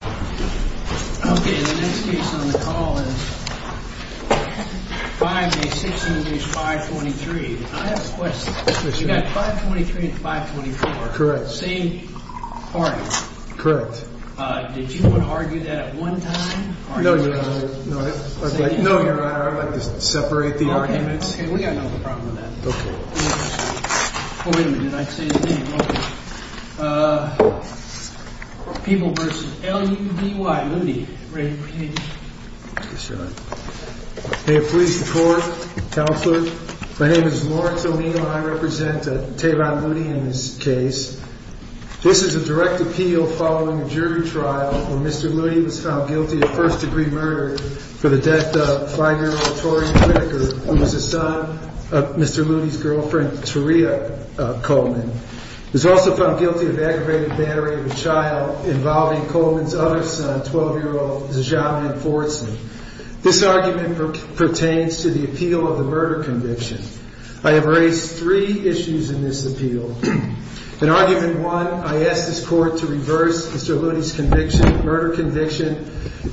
The next case on the call is 5A 16 v. 523. I have a question. You've got 523 and 524, same party. Did you want to argue that at one time? No, Your Honor. I'd like to separate the arguments. Okay, we've got no problem with that. Oh, wait a minute. I'd say it again. People v. L-U-D-Y, Ludy. Ready for case? Yes, Your Honor. May it please the Court, Counselor. My name is Lawrence O'Neill and I represent Tehran Ludy in this case. This is a direct appeal following a jury trial where Mr. Ludy was found guilty of first-degree murder for the death of 5-year-old Torian Whitaker, who was the son of Mr. Ludy's girlfriend, Terea Coleman. He was also found guilty of aggravated battery of a child involving Coleman's other son, 12-year-old Zajon Fordson. This argument pertains to the appeal of the murder conviction. I have raised three issues in this appeal. In argument one, I ask this Court to reverse Mr. Ludy's murder conviction,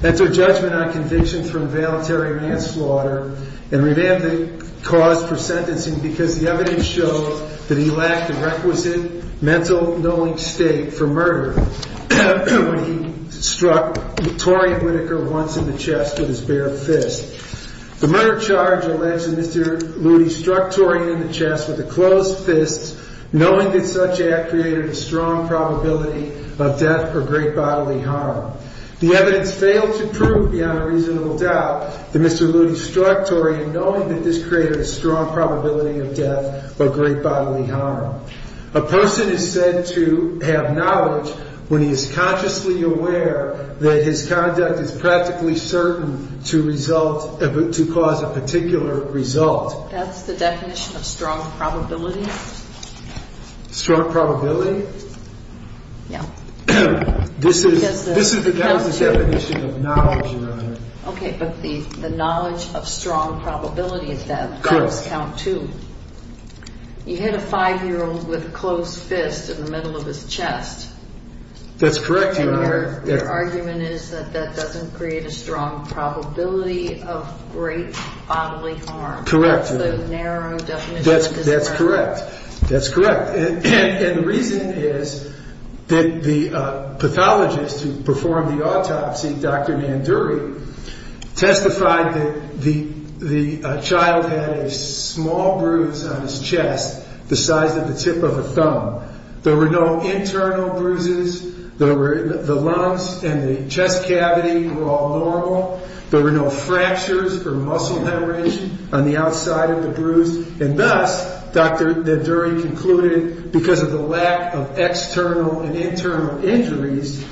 enter judgment on conviction from voluntary manslaughter, and revamp the cause for sentencing because the evidence shows that he lacked the requisite mental knowing state for murder when he struck Torian Whitaker once in the chest. The murder charge alleges that Mr. Ludy struck Torian in the chest with a closed fist, knowing that such act created a strong probability of death or great bodily harm. The evidence failed to prove beyond a reasonable doubt that Mr. Ludy struck Torian knowing that this created a strong probability of death or great bodily harm. A person is said to have knowledge when he is consciously aware that his conduct is practically certain to cause a particular result. That's the definition of strong probability? Strong probability? Yeah. This is the definition of knowledge, Your Honor. Okay, but the knowledge of strong probability of death does count too. Correct. You hit a five-year-old with a closed fist in the middle of his chest. That's correct, Your Honor. And your argument is that that doesn't create a strong probability of great bodily harm. Correct. That's the narrow definition of strong probability. That's correct. That's correct. And the reason is that the pathologist who performed the autopsy, Dr. Nanduri, testified that the child had a small bruise on his chest the size of the tip of a thumb. There were no internal bruises. The lungs and the chest cavity were all normal. There were no fractures or muscle hemorrhage on the outside of the bruise. And thus, Dr. Nanduri concluded, because of the lack of external and internal injuries,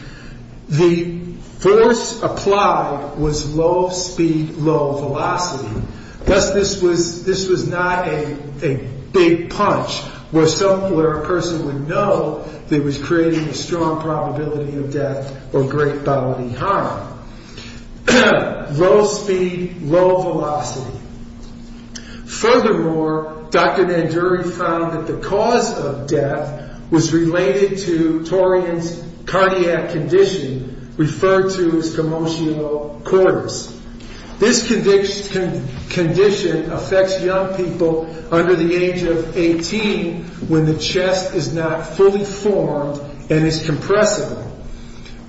the force applied was low speed, low velocity. Thus, this was not a big punch where a person would know that it was creating a strong probability of death or great bodily harm. Low speed, low velocity. Furthermore, Dr. Nanduri found that the cause of death was related to Torian's cardiac condition, referred to as commotio cortis. This condition affects young people under the age of 18 when the chest is not fully formed and is compressible.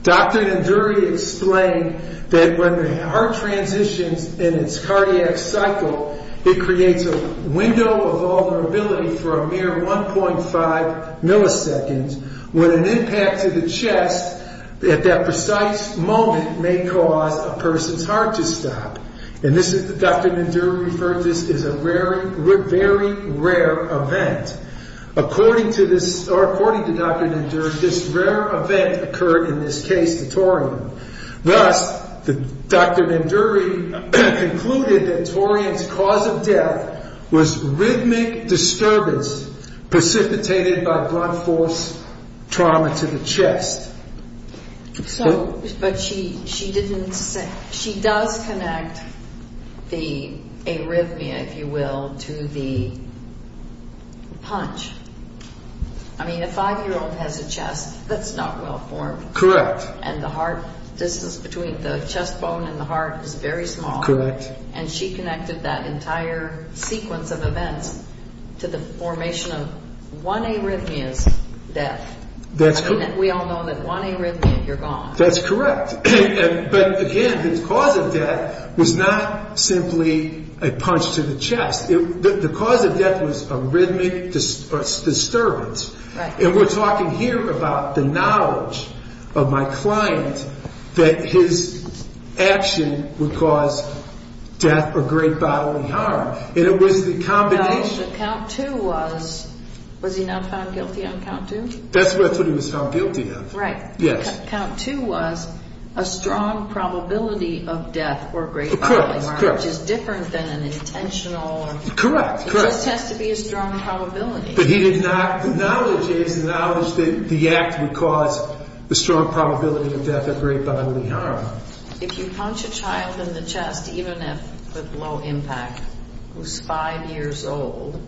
Dr. Nanduri explained that when the heart transitions in its cardiac cycle, it creates a window of vulnerability for a mere 1.5 milliseconds, when an impact to the chest at that precise moment may cause a person's heart to stop. Dr. Nanduri referred to this as a very rare event. According to Dr. Nanduri, this rare event occurred in this case to Torian. Thus, Dr. Nanduri concluded that Torian's cause of death was rhythmic disturbance precipitated by blunt force trauma to the chest. But she does connect the arrhythmia, if you will, to the punch. I mean, a five-year-old has a chest that's not well formed. Correct. And the heart, the distance between the chest bone and the heart is very small. Correct. And she connected that entire sequence of events to the formation of one arrhythmia's death. We all know that one arrhythmia, you're gone. That's correct. But again, the cause of death was not simply a punch to the chest. The cause of death was a rhythmic disturbance. And we're talking here about the knowledge of my client that his action would cause death or great bodily harm. And it was the combination. Was he not found guilty on count two? That's what he was found guilty of. Right. Yes. Count two was a strong probability of death or great bodily harm. Correct, correct. Which is different than an intentional. Correct, correct. It just has to be a strong probability. But he did not acknowledge that the act would cause the strong probability of death or great bodily harm. If you punch a child in the chest, even if with low impact, who's five years old,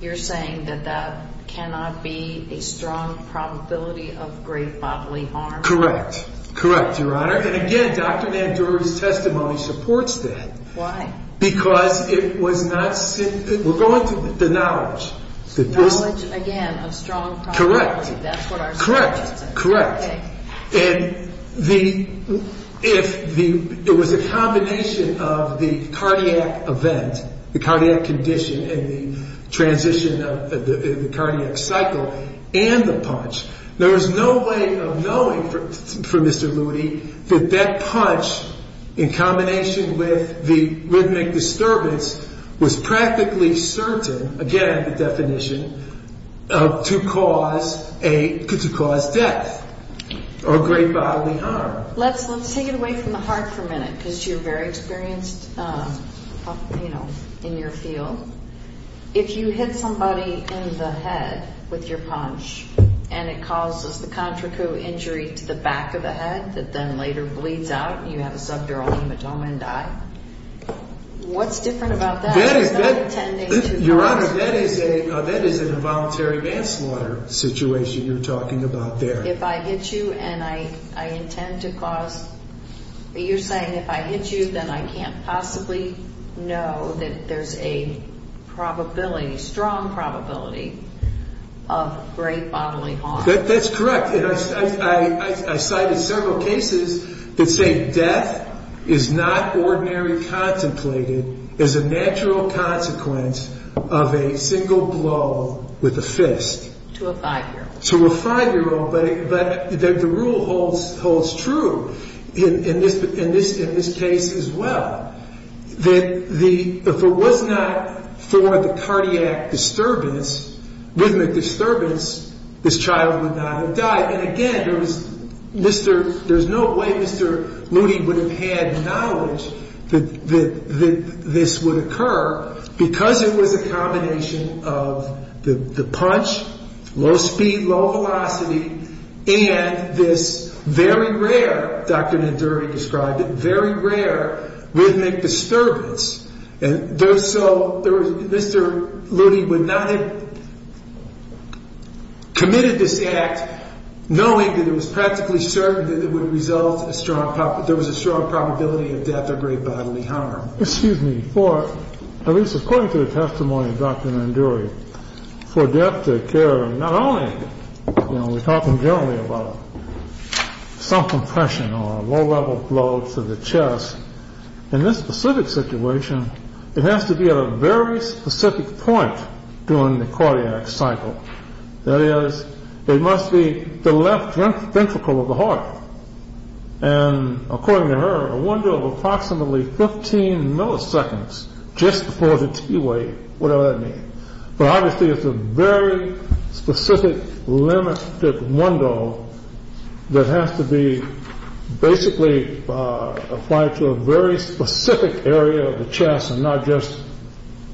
you're saying that that cannot be a strong probability of great bodily harm? Correct. Correct, Your Honor. And again, Dr. Nandori's testimony supports that. Why? Because it was not simply... we're going to the knowledge. The knowledge, again, of strong probability. Correct. That's what our testimony says. Correct, correct. And if it was a combination of the cardiac event, the cardiac condition, and the transition of the cardiac cycle, and the punch, there was no way of knowing for Mr. Ludi that that punch, in combination with the rhythmic disturbance, was practically certain, again, the definition, to cause death. Or great bodily harm. Let's take it away from the heart for a minute, because you're very experienced, you know, in your field. If you hit somebody in the head with your punch and it causes the contrico injury to the back of the head that then later bleeds out and you have a subdural hematoma and die, what's different about that? It's not intending to cause... Your Honor, that is an involuntary manslaughter situation you're talking about there. If I hit you and I intend to cause... you're saying if I hit you, then I can't possibly know that there's a probability, strong probability, of great bodily harm. That's correct. I cited several cases that say death is not ordinarily contemplated as a natural consequence of a single blow with a fist. To a five-year-old. To a five-year-old. But the rule holds true in this case as well. That if it was not for the cardiac disturbance, rhythmic disturbance, this child would not have died. And again, there's no way Mr. Looney would have had knowledge that this would occur because it was a combination of the punch, low speed, low velocity, and this very rare, Dr. Nenduri described it, very rare rhythmic disturbance. And there's so... Mr. Looney would not have committed this act knowing that it was practically certain that it would result in a strong... there was a strong probability of death or great bodily harm. At least according to the testimony of Dr. Nenduri, for death to occur, not only... we're talking generally about some compression or low-level blow to the chest. In this specific situation, it has to be at a very specific point during the cardiac cycle. That is, it must be the left ventricle of the heart. And according to her, a window of approximately 15 milliseconds just before the T-weight, whatever that means. But obviously, it's a very specific, limited window that has to be basically applied to a very specific area of the chest and not just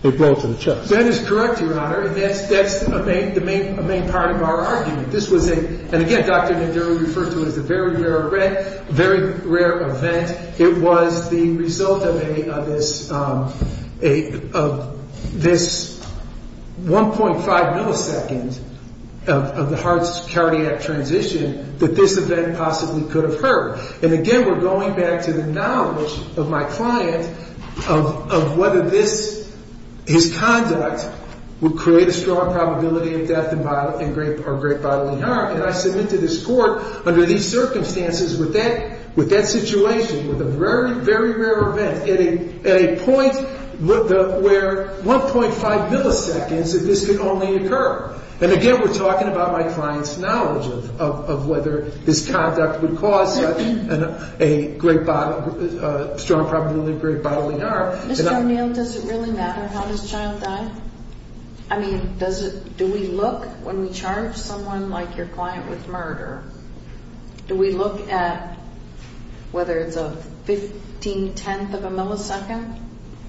a blow to the chest. That is correct, Your Honor. And that's the main part of our argument. This was a... and again, Dr. Nenduri referred to it as a very rare event. It was the result of a... of this 1.5 milliseconds of the heart's cardiac transition that this event possibly could have hurt. And again, we're going back to the knowledge of my client of whether this... his conduct would create a strong probability of death or great bodily harm. And I submit to this Court, under these circumstances, with that situation, with a very, very rare event, at a point where 1.5 milliseconds of this could only occur. And again, we're talking about my client's knowledge of whether his conduct would cause a great bodily... a strong probability of great bodily harm. Mr. O'Neill, does it really matter how this child died? I mean, does it... do we look, when we charge someone like your client with murder, do we look at whether it's a 15 tenth of a millisecond?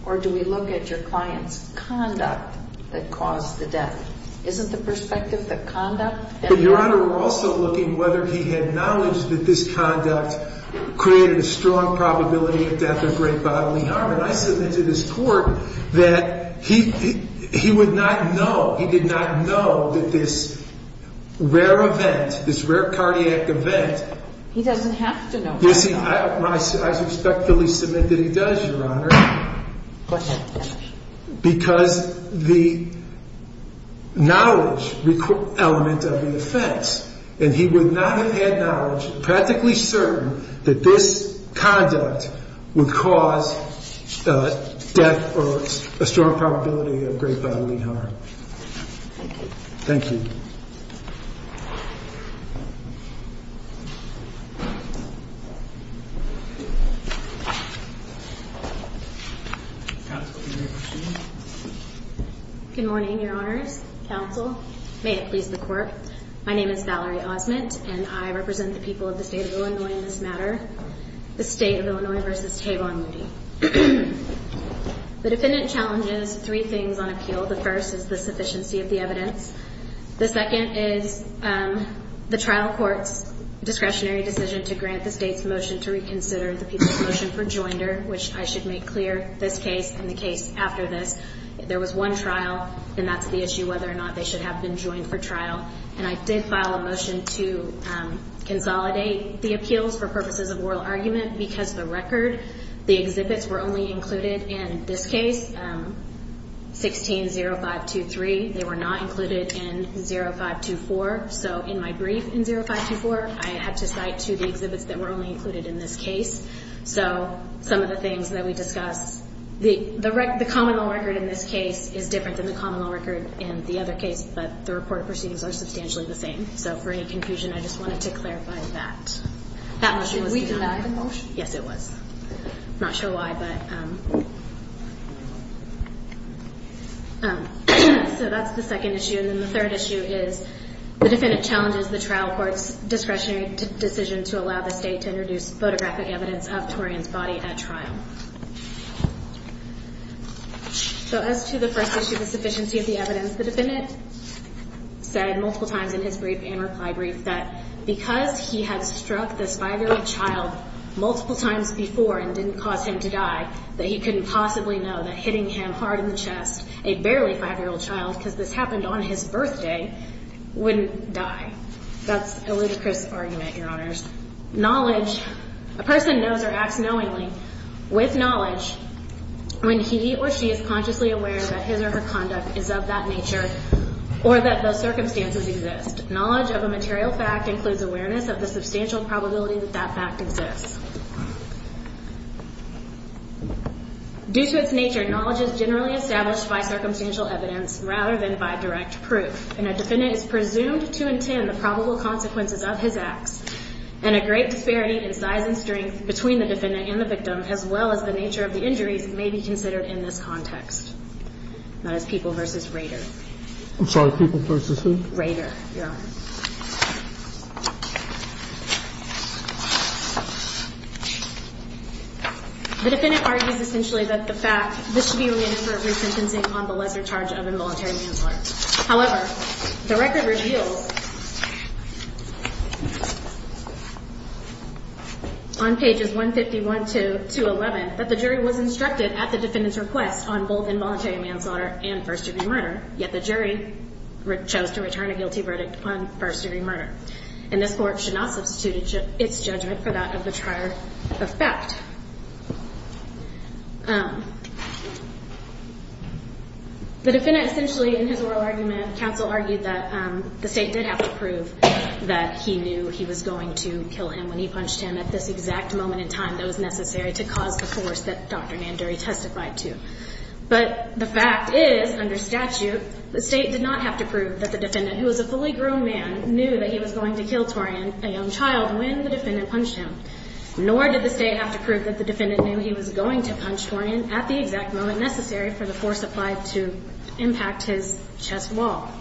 Or do we look at your client's conduct that caused the death? Isn't the perspective that conduct... But, Your Honor, we're also looking whether he had knowledge that this conduct created a strong probability of death or great bodily harm. And I submit to this Court that he... he would not know. He did not know that this rare event, this rare cardiac event... He doesn't have to know. You see, I respectfully submit that he does, Your Honor, because the knowledge element of the offense. And he would not have had knowledge, practically certain, that this conduct would cause death or a strong probability of great bodily harm. Thank you. Counsel, do you have a question? Good morning, Your Honors. Counsel. May it please the Court. My name is Valerie Osment, and I represent the people of the State of Illinois in this matter. The State of Illinois v. Tavon Moody. The defendant challenges three things on appeal. The first is the sufficiency of the evidence. I did file a motion to reconsider the people's motion for joinder, which I should make clear, this case and the case after this. If there was one trial, then that's the issue, whether or not they should have been joined for trial. And I did file a motion to consolidate the appeals for purposes of oral argument, because the record, the exhibits were only included in this case, 16-0523. They were not included in 0524. So in my brief in 0524, I had to cite two of the exhibits that were only included in this case. So some of the things that we discussed. The common law record in this case is different than the common law record in the other case, but the reported proceedings are substantially the same. So for any confusion, I just wanted to clarify that. That motion was denied. Did we deny the motion? Yes, it was. I'm not sure why, but. So that's the second issue. And then the third issue is the defendant challenges the trial court's discretionary decision to allow the state to introduce photographic evidence of Torian's body at trial. So as to the first issue, the sufficiency of the evidence, the defendant said multiple times in his brief and reply brief that because he had struck this five-year-old child multiple times before and didn't cause him to die, that he couldn't possibly know that hitting him hard in the chest, a barely five-year-old child, because this happened on his birthday, wouldn't die. That's a ludicrous argument, Your Honors. Knowledge, a person knows or acts knowingly with knowledge when he or she is consciously aware that his or her conduct is of that nature or that those circumstances exist. Knowledge of a material fact includes awareness of the substantial probability that that fact exists. Due to its nature, knowledge is generally established by circumstantial evidence rather than by direct proof. And a defendant is presumed to intend the probable consequences of his acts. And a great disparity in size and strength between the defendant and the victim, as well as the nature of the injuries, may be considered in this context. That is People v. Rader. I'm sorry, People v. who? Rader, Your Honor. The defendant argues essentially that the fact, this should be remanded for a resentencing on the lesser charge of involuntary manslaughter. However, the record reveals on pages 151 to 211 that the jury was instructed at the defendant's request on both involuntary manslaughter and first-degree murder, yet the jury chose to return a guilty verdict on first-degree murder. And this court should not substitute its judgment for that of the trier of fact. The defendant essentially, in his oral argument, counsel argued that the state did have to prove that he knew he was going to kill him when he punched him at this exact moment in time that was necessary to cause the force that Dr. Nandori testified to. But the fact is, under statute, the state did not have to prove that the defendant, who was a fully grown man, knew that he was going to kill Torian, a young child, when the defendant punched him. Nor did the state have to prove that the defendant knew he was going to punch Torian at the exact moment necessary for the force applied to impact his chest wall.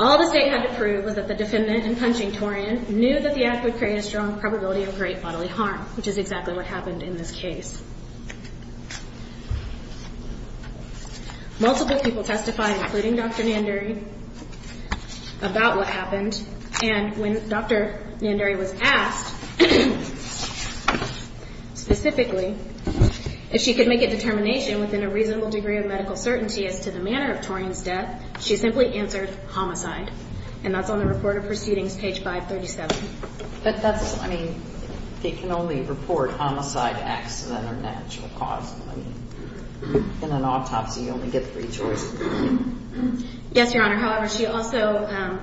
All the state had to prove was that the defendant, in punching Torian, knew that the act would create a strong probability of great bodily harm, which is exactly what happened in this case. Multiple people testified, including Dr. Nandori, about what happened. And when Dr. Nandori was asked, specifically, if she could make a determination within a reasonable degree of medical certainty as to the manner of Torian's death, she simply answered homicide. And that's on the report of proceedings, page 537. But that's, I mean, it can only report homicide, accident, or natural cause. In an autopsy, you only get three choices. Yes, Your Honor. However, she also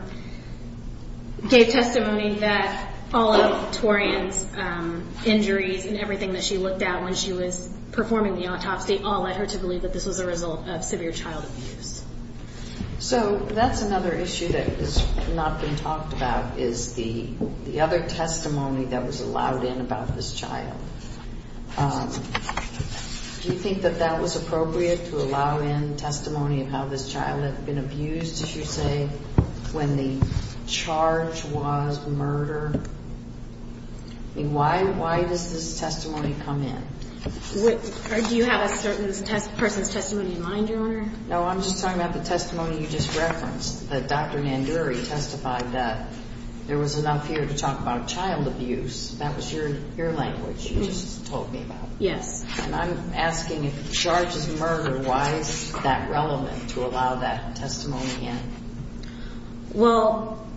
gave testimony that all of Torian's injuries and everything that she looked at when she was performing the autopsy all led her to believe that this was a result of severe child abuse. So that's another issue that has not been talked about, is the other testimony that was allowed in about this child. Do you think that that was appropriate, to allow in testimony of how this child had been abused, if you say, when the charge was murder? I mean, why does this testimony come in? Do you have a certain person's testimony in mind, Your Honor? No, I'm just talking about the testimony you just referenced, that Dr. Nanduri testified that there was enough here to talk about child abuse. That was your language you just told me about. Yes. And I'm asking, if the charge is murder, why is that relevant to allow that testimony in? Well,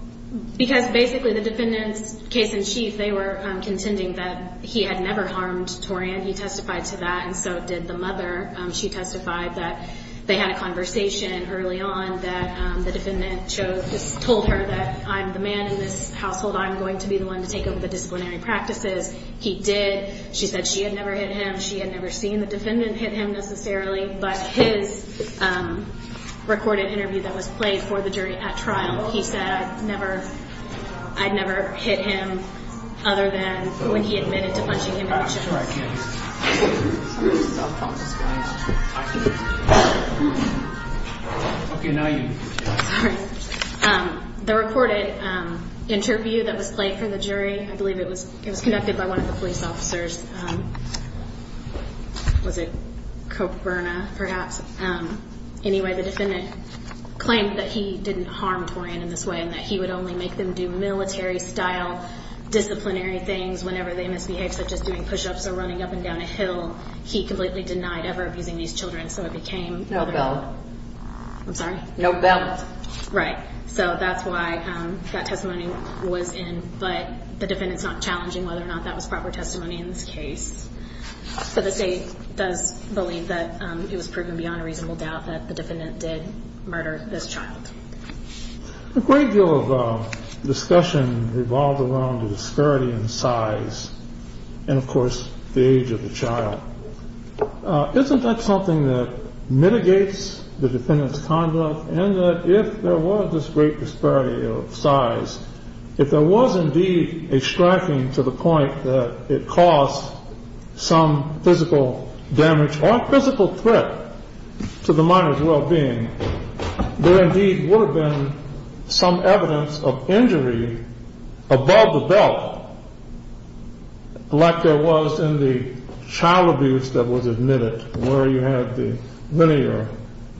because basically the defendant's case-in-chief, they were contending that he had never harmed Torian. He testified to that, and so did the mother. She testified that they had a conversation early on that the defendant told her that I'm the man in this household, I'm going to be the one to take over the disciplinary practices. He did. She said she had never hit him. She had never seen the defendant hit him, necessarily. But his recorded interview that was played for the jury at trial, he said, I'd never hit him other than when he admitted to punching him in the chest. The recorded interview that was played for the jury, I believe it was conducted by one of the police officers. Was it Koberna, perhaps? Anyway, the defendant claimed that he didn't harm Torian in this way, and that he would only make them do military-style disciplinary things whenever they misbehaved, such as doing push-ups or running up and down a hill. He completely denied ever abusing these children, so it became- No bail. I'm sorry? No bail. Right. So that's why that testimony was in. But the defendant's not challenging whether or not that was proper testimony in this case. So the state does believe that it was proven beyond a reasonable doubt that the defendant did murder this child. A great deal of discussion revolved around the disparity in size and, of course, the age of the child. Isn't that something that mitigates the defendant's conduct, and that if there was this great disparity of size, if there was indeed a striking to the point that it caused some physical damage or physical threat to the minor's well-being, there indeed would have been some evidence of injury above the belt, like there was in the child abuse that was admitted, where you had the linear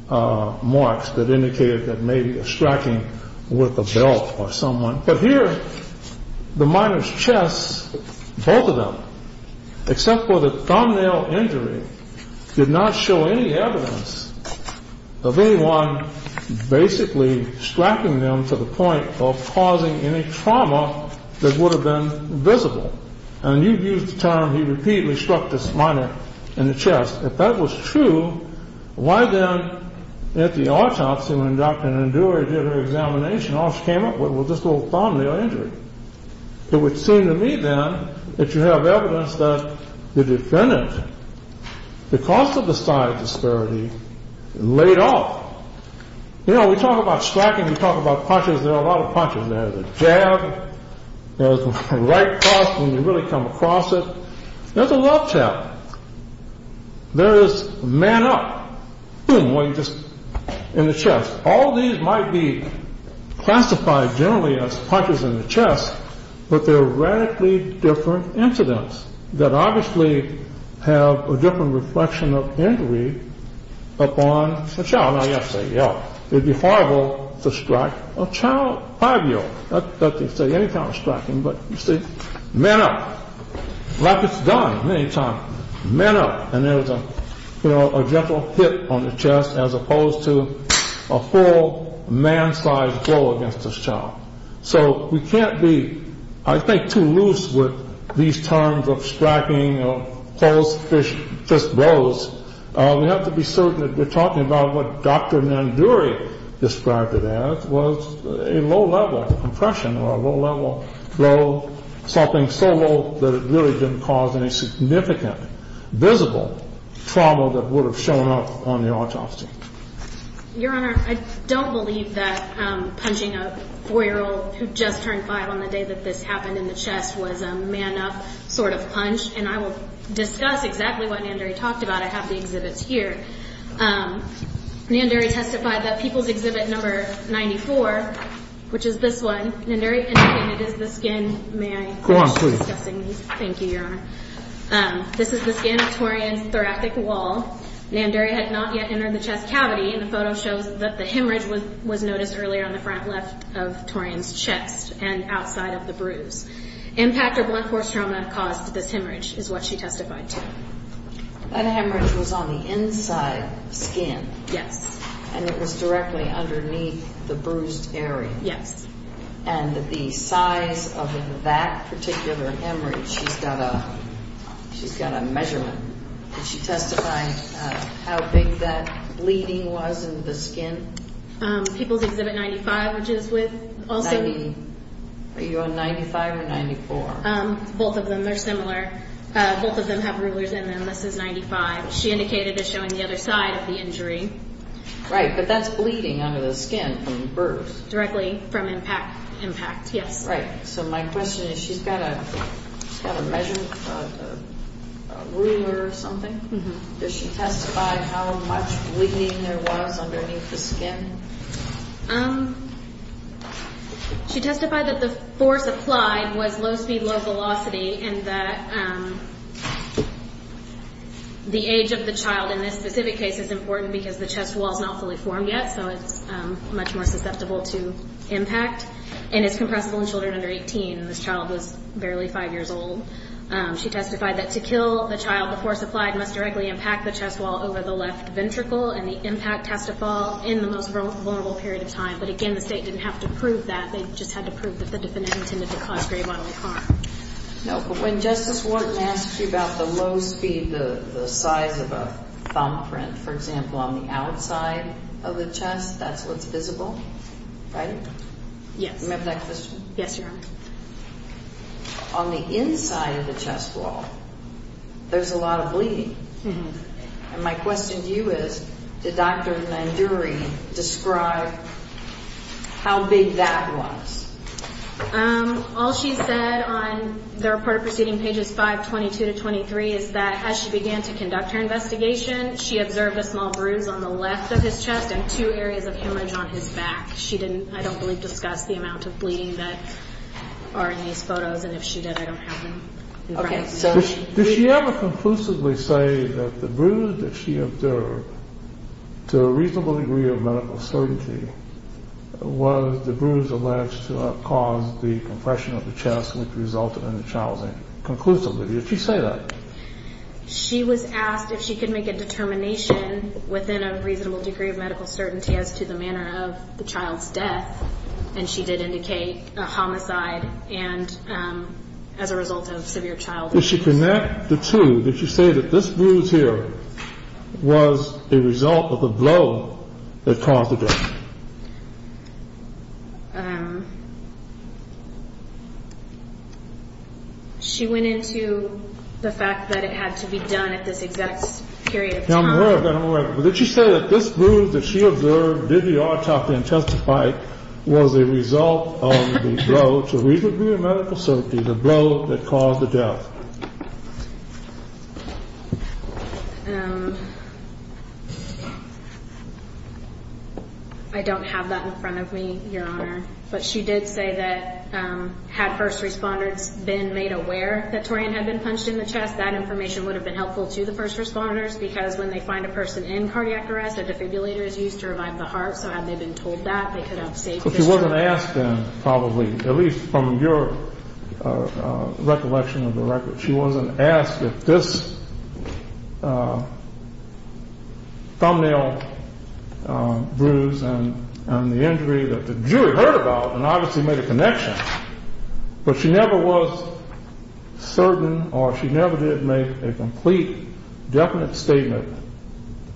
marks that indicated that maybe a striking with a belt or someone. But here, the minor's chest, both of them, except for the thumbnail injury, did not show any evidence of anyone basically striking them to the point of causing any trauma that would have been visible. And you've used the term he repeatedly struck this minor in the chest. If that was true, why then, at the autopsy, when Dr. Nanduri did her examination, all she came up with was this little thumbnail injury? It would seem to me, then, that you have evidence that the defendant, because of the size disparity, laid off. You know, we talk about striking, we talk about punches, there are a lot of punches there. There's a jab, there's a right cross when you really come across it, there's a left jab. There is a man-up in the chest. All these might be classified generally as punches in the chest, but they're radically different incidents that obviously have a different reflection of injury upon the child. It would be horrible to strike a five-year-old. Not to say any kind of striking, but you see, man-up, like it's done many times, man-up. And there's a gentle hit on the chest as opposed to a full man-sized blow against this child. So we can't be, I think, too loose with these terms of striking or close fist blows. We have to be certain that we're talking about what Dr. Nanduri described it as was a low level compression or a low level blow, something so low that it really didn't cause any significant visible trauma that would have shown up on the autopsy. Your Honor, I don't believe that punching a four-year-old who just turned five on the day that this happened in the chest was a man-up sort of punch. And I will discuss exactly what Nanduri talked about. I have the exhibits here. Nanduri testified that People's Exhibit No. 94, which is this one, Nanduri indicated is the skin. May I finish discussing these? Go on, please. Thank you, Your Honor. This is the skin of Torian's thoracic wall. Nanduri had not yet entered the chest cavity, and the photo shows that the hemorrhage was noticed earlier on the front left of Torian's chest and outside of the bruise. Impact or blunt force trauma caused this hemorrhage is what she testified to. That hemorrhage was on the inside of the skin. Yes. And it was directly underneath the bruised area. Yes. And the size of that particular hemorrhage, she's got a measurement. Did she testify how big that bleeding was in the skin? People's Exhibit No. 95, which is with Olsen. Are you on 95 or 94? Both of them. They're similar. Both of them have rulers in them. This is 95. She indicated as showing the other side of the injury. Right, but that's bleeding under the skin from the bruise. Directly from impact, yes. Right. So my question is, she's got a measurement, a ruler or something. Does she testify how much bleeding there was underneath the skin? She testified that the force applied was low speed, low velocity, and that the age of the child in this specific case is important because the chest wall is not fully formed yet, so it's much more susceptible to impact. And it's compressible in children under 18. This child was barely five years old. She testified that to kill the child before supplied must directly impact the chest wall over the left ventricle and the impact has to fall in the most vulnerable period of time. But, again, the State didn't have to prove that. They just had to prove that the defendant intended to cause grave bodily harm. No, but when Justice Wharton asked you about the low speed, the size of a thumbprint, for example, on the outside of the chest, that's what's visible, right? Yes. Remember that question? Yes, Your Honor. On the inside of the chest wall, there's a lot of bleeding. And my question to you is, did Dr. Nanduri describe how big that was? All she said on the reported proceeding, pages 522 to 523, is that as she began to conduct her investigation, she observed a small bruise on the left of his chest and two areas of hemorrhage on his back. She didn't, I don't believe, discuss the amount of bleeding that are in these photos, and if she did, I don't have them in front of me. Did she ever conclusively say that the bruise that she observed, to a reasonable degree of medical certainty, was the bruise alleged to have caused the compression of the chest which resulted in the child's injury? Conclusively, did she say that? She was asked if she could make a determination within a reasonable degree of medical certainty as to the manner of the child's death, and she did indicate a homicide and as a result of severe child abuse. Did she connect the two? Did she say that this bruise here was a result of the blow that caused the death? She went into the fact that it had to be done at this exact period of time. Did she say that this bruise that she observed, did the autopsy and testify, was a result of the blow, to a reasonable degree of medical certainty, the blow that caused the death? I don't have that in front of me, Your Honor, but she did say that had first responders been made aware that Torian had been punched in the chest, that information would have been helpful to the first responders, because when they find a person in cardiac arrest, a defibrillator is used to revive the heart, so had they been told that, they could have saved their child. But she wasn't asked then, probably, at least from your recollection of the record, she wasn't asked if this thumbnail bruise and the injury that the jury heard about, and obviously made a connection, but she never was certain, or she never did make a complete, definite statement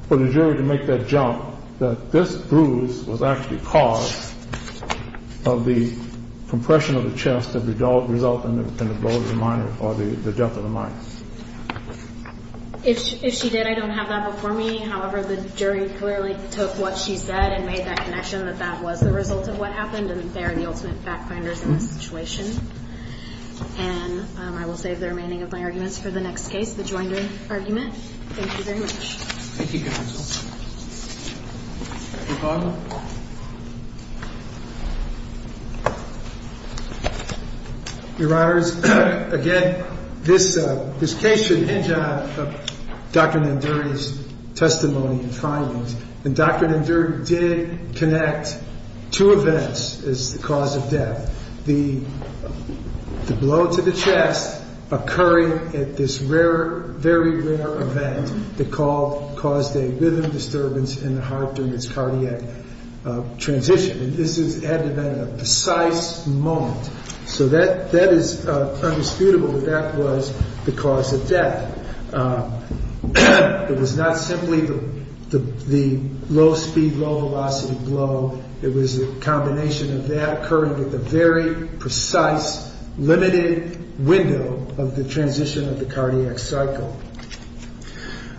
for the jury to make that jump, that this bruise was actually caused of the compression of the chest that would result in the blow of the minor or the death of the minor. If she did, I don't have that before me. However, the jury clearly took what she said and made that connection, and that that was the result of what happened, and they are the ultimate fact-finders in this situation. And I will save the remaining of my arguments for the next case, the Joinder argument. Thank you very much. Thank you, counsel. Your Honor. Your Honors, again, this case should hinge on Dr. Nanduri's testimony and findings, and Dr. Nanduri did connect two events as the cause of death. The blow to the chest occurring at this very rare event that caused a rhythm disturbance in the heart during its cardiac transition, and this had to have been at a precise moment. So that is undisputable that that was the cause of death. It was not simply the low-speed, low-velocity blow. It was a combination of that occurring at the very precise, limited window of the transition of the cardiac cycle.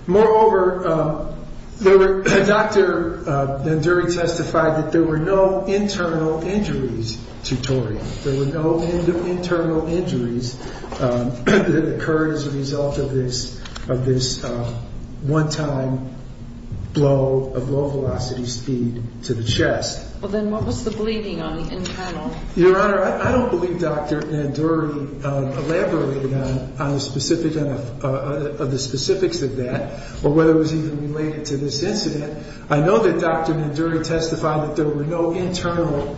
Moreover, Dr. Nanduri testified that there were no internal injuries to Tori. There were no internal injuries that occurred as a result of this one-time blow of low-velocity speed to the chest. Well, then what was the bleeding on the internal? Your Honor, I don't believe Dr. Nanduri elaborated on the specifics of that or whether it was even related to this incident. I know that Dr. Nanduri testified that there were no internal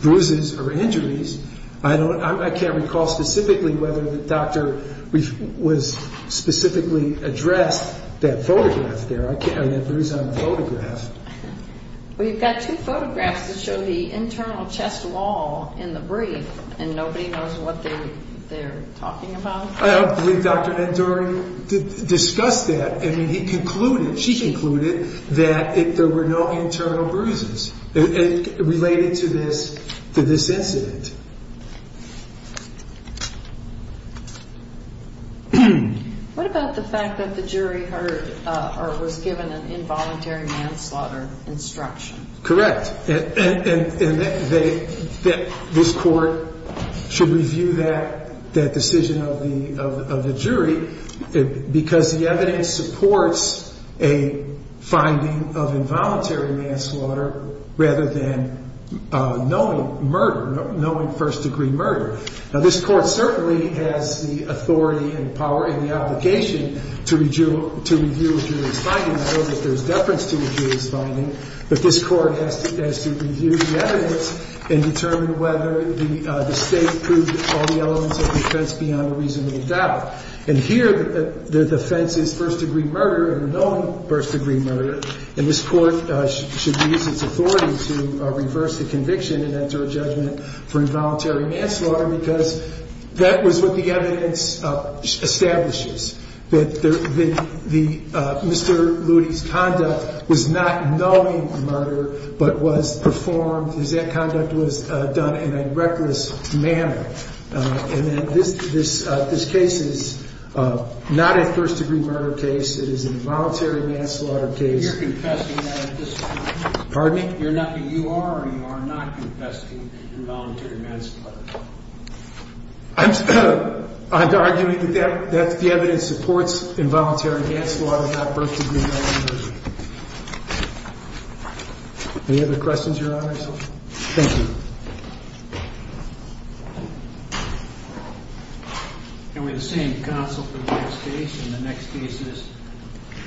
bruises or injuries. I can't recall specifically whether the doctor was specifically addressed that photograph there. I mean, that bruise on the photograph. Well, you've got two photographs that show the internal chest wall in the brief, and nobody knows what they're talking about. I don't believe Dr. Nanduri discussed that. I mean, he concluded, she concluded that there were no internal bruises related to this incident. What about the fact that the jury heard or was given an involuntary manslaughter instruction? Correct. And that this Court should review that decision of the jury because the evidence supports a finding of involuntary manslaughter rather than knowing murder, knowing first-degree murder. Now, this Court certainly has the authority and power and the obligation to review a jury's finding. I don't know if there's deference to the jury's finding, but this Court has to review the evidence and determine whether the State proved all the elements of the offense beyond a reasonable doubt. And here, the offense is first-degree murder or known first-degree murder, and this Court should use its authority to reverse the conviction and enter a judgment for involuntary manslaughter because that was what the evidence establishes, that Mr. Loody's conduct was not knowing murder but was performed, is that conduct was done in a reckless manner. And that this case is not a first-degree murder case. It is an involuntary manslaughter case. You're confessing that at this point? Pardon me? You're not, you are or you are not confessing involuntary manslaughter? I'm arguing that the evidence supports involuntary manslaughter, not first-degree murder. Any other questions, Your Honor? Thank you. And we have the same counsel for the next case, and the next case is?